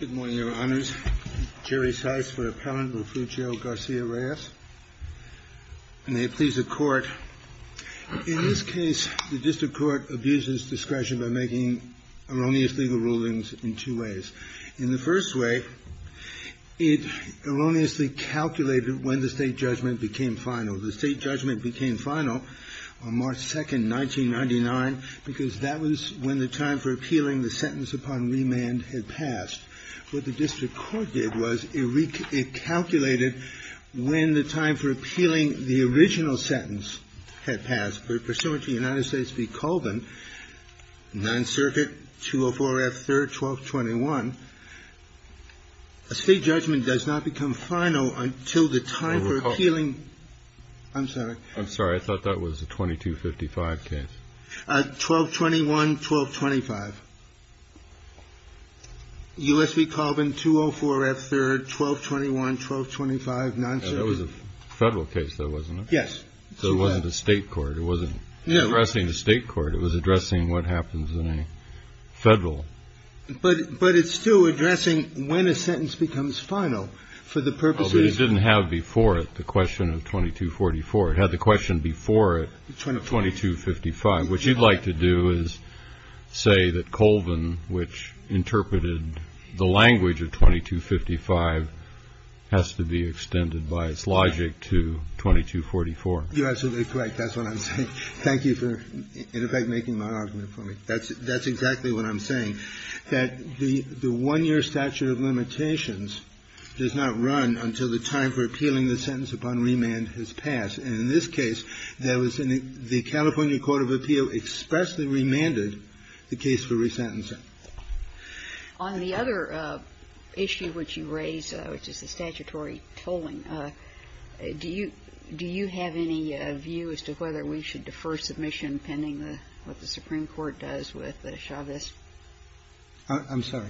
Good morning, Your Honors. Jerry Seitz for Appellant Refugio Garcia-Reyes. May it please the Court. In this case, the District Court abuses discretion by making erroneous legal rulings in two ways. In the first way, it erroneously calculated when the state judgment became final. The state judgment became final on March 2, 1999, because that was when the time for appealing the sentence upon remand had passed. What the District Court did was it recalculated when the time for appealing the original sentence had passed. But pursuant to United States v. Colvin, 9th Circuit, 204 F. 3rd, 1221, a state judgment does not become final until the time for appealing. I'm sorry. I thought that was a 2255 case. 1221, 1225. U.S. v. Colvin, 204 F. 3rd, 1221, 1225, 9th Circuit. That was a Federal case, though, wasn't it? Yes. So it wasn't a state court. It wasn't addressing a state court. It was addressing what happens in a Federal. But it didn't have before it the question of 2244. It had the question before it, 2255. What you'd like to do is say that Colvin, which interpreted the language of 2255, has to be extended by its logic to 2244. You're absolutely correct. That's what I'm saying. Thank you for, in effect, making my argument for me. That's exactly what I'm saying, that the one-year statute of limitations does not run until the time for appealing the sentence upon remand has passed. And in this case, the California court of appeal expressly remanded the case for resentencing. On the other issue which you raise, which is the statutory tolling, do you have any view as to whether we should defer submission pending what the Supreme Court does with Chavez? I'm sorry?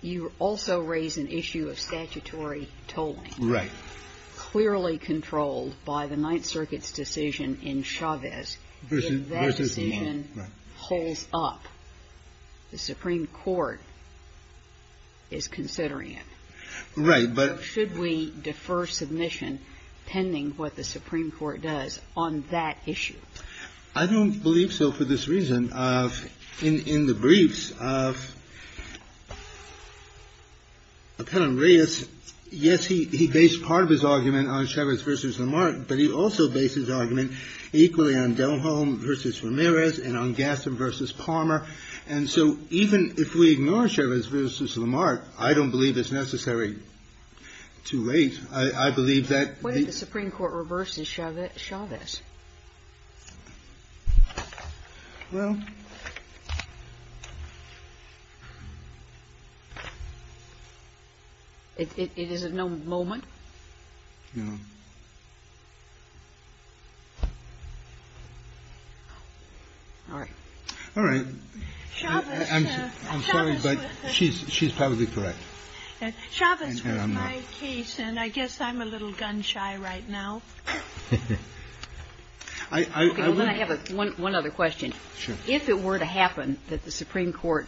You also raise an issue of statutory tolling. Right. Clearly controlled by the Ninth Circuit's decision in Chavez. If that decision holds up, the Supreme Court is considering it. Right. But should we defer submission pending what the Supreme Court does on that issue? I don't believe so for this reason. In the briefs of Appellant Reyes, yes, he based part of his argument on Chavez v. Lamarck, but he also based his argument equally on Delholm v. Ramirez and on Gaston v. Palmer. And so even if we ignore Chavez v. Lamarck, I don't believe it's necessary too late. I believe that the ---- What if the Supreme Court reverses Chavez? Well ---- It is at no moment? No. All right. All right. I'm sorry, but she's probably correct. Chavez was my case, and I guess I'm a little gun-shy right now. Okay. I have one other question. Sure. If it were to happen that the Supreme Court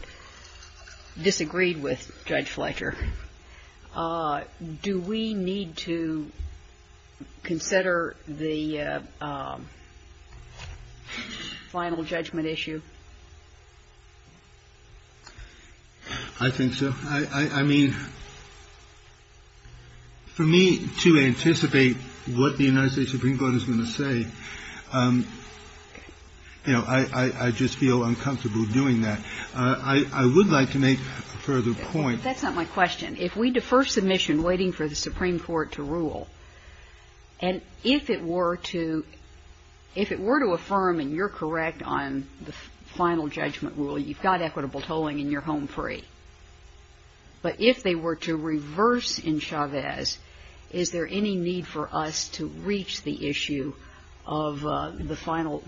disagreed with Judge Fletcher, do we need to consider the final judgment issue? I think so. I mean, for me to anticipate what the United States Supreme Court is going to say, you know, I just feel uncomfortable doing that. I would like to make a further point. That's not my question. If we defer submission waiting for the Supreme Court to rule, and if it were to affirm and you're correct on the final judgment rule, you've got equitable tolling and you're home free. But if they were to reverse in Chavez, is there any need for us to reach the issue of the final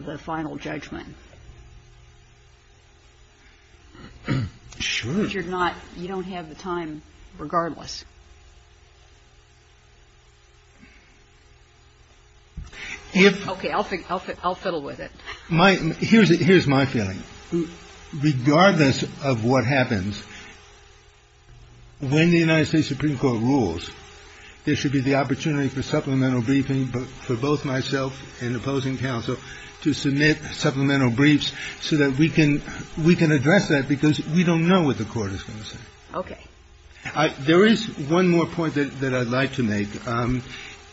judgment? Sure. I mean, you're not you don't have the time regardless. Okay. I'll fiddle with it. Here's my feeling. Regardless of what happens, when the United States Supreme Court rules, there should be the opportunity for supplemental briefing for both myself and opposing counsel to submit supplemental briefs so that we can address that because we don't know what the Court is going to say. Okay. There is one more point that I'd like to make.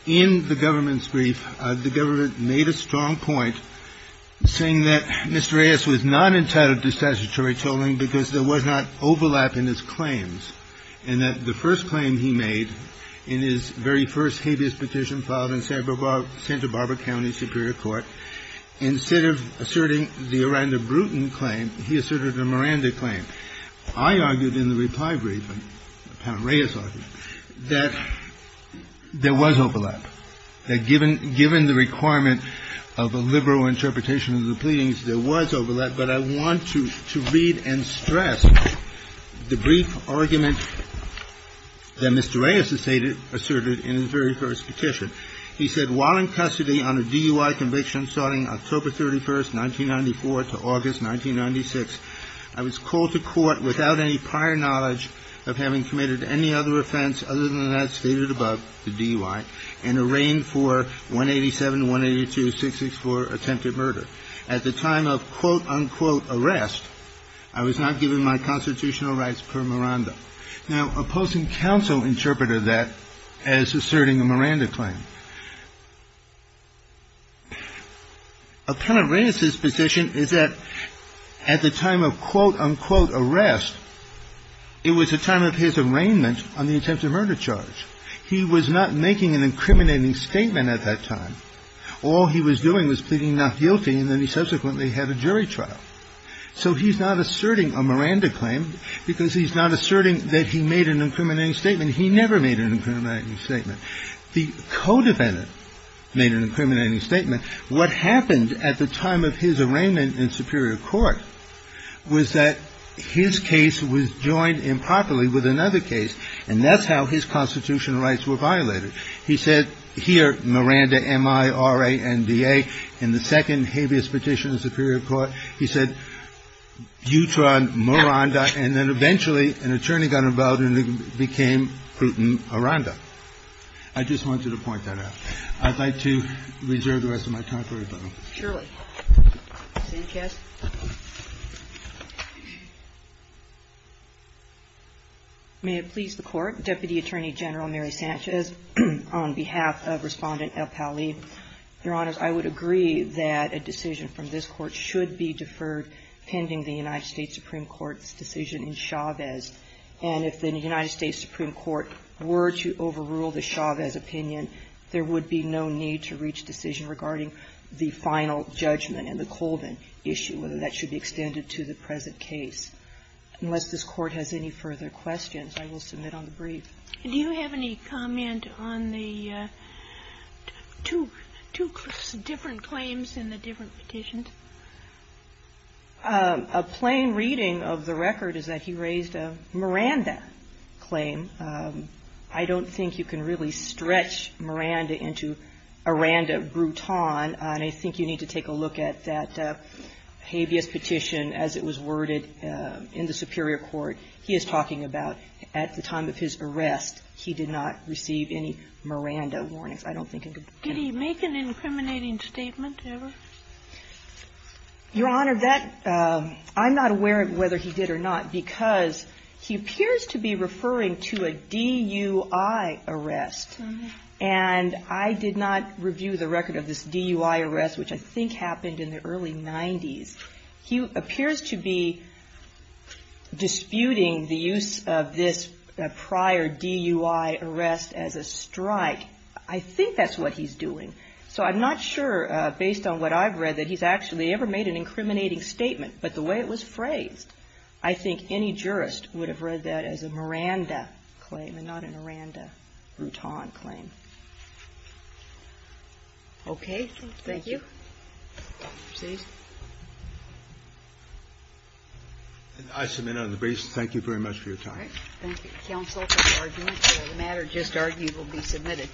In the government's brief, the government made a strong point saying that Mr. Reyes was not entitled to statutory tolling because there was not overlap in his claims and that the first claim he made in his very first habeas petition filed in Santa Barbara County Superior Court, instead of asserting the Aranda Bruton claim, he asserted a Miranda claim. I argued in the reply briefing, Appellant Reyes argued, that there was overlap, that given the requirement of a liberal interpretation of the pleadings, there was overlap, but I want to read and stress the brief argument that Mr. Reyes asserted in his very first petition. He said, While in custody on a DUI conviction starting October 31, 1994 to August 1996, I was called to court without any prior knowledge of having committed any other offense other than that stated above, the DUI, and arraigned for 187-182-664 attempted murder. At the time of, quote, unquote, arrest, I was not given my constitutional rights per Miranda. Now, opposing counsel interpreted that as asserting a Miranda claim. Appellant Reyes's position is that at the time of, quote, unquote, arrest, it was a time of his arraignment on the attempted murder charge. He was not making an incriminating statement at that time. All he was doing was pleading not guilty, and then he subsequently had a jury trial. So he's not asserting a Miranda claim because he's not asserting that he made an incriminating statement. He never made an incriminating statement. The co-defendant made an incriminating statement. What happened at the time of his arraignment in superior court was that his case was joined improperly with another case, and that's how his constitutional rights were violated. He said here, Miranda, M-I-R-A-N-D-A, in the second habeas petition in superior court, he said, you tried Miranda, and then eventually an attorney got involved and it became Putin-Iranda. I just wanted to point that out. I'd like to reserve the rest of my time for rebuttal. Sotomayor. Sanchez. May it please the Court. Deputy Attorney General Mary Sanchez, on behalf of Respondent Appellee. Your Honor, I would agree that a decision from this Court should be deferred pending the United States Supreme Court's decision in Chavez. And if the United States Supreme Court were to overrule the Chavez opinion, there would be no need to reach decision regarding the final judgment in the Colvin issue, whether that should be extended to the present case. Unless this Court has any further questions, I will submit on the brief. Do you have any comment on the two different claims in the different petitions? A plain reading of the record is that he raised a Miranda claim. I don't think you can really stretch Miranda into Iranda Bruton, and I think you need to take a look at that habeas petition as it was worded in the superior court. He is talking about at the time of his arrest, he did not receive any Miranda warnings. I don't think you can do that. Did he make an incriminating statement ever? Your Honor, that – I'm not aware of whether he did or not, because he appears to be referring to a DUI arrest. And I did not review the record of this DUI arrest, which I think happened in the early 90s. He appears to be disputing the use of this prior DUI arrest as a strike. I think that's what he's doing. So I'm not sure, based on what I've read, that he's actually ever made an incriminating statement. But the way it was phrased, I think any jurist would have read that as a Miranda claim and not a Miranda Bruton claim. Okay. Thank you. Proceed. I submit on the basis – thank you very much for your time. All right. Thank you, counsel, for the argument. The matter just argued will be submitted.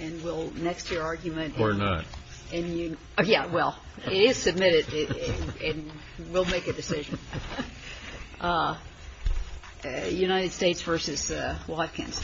And we'll – next to your argument – Or not. Yeah, well, it is submitted, and we'll make a decision. United States v. Watkins. Thank you.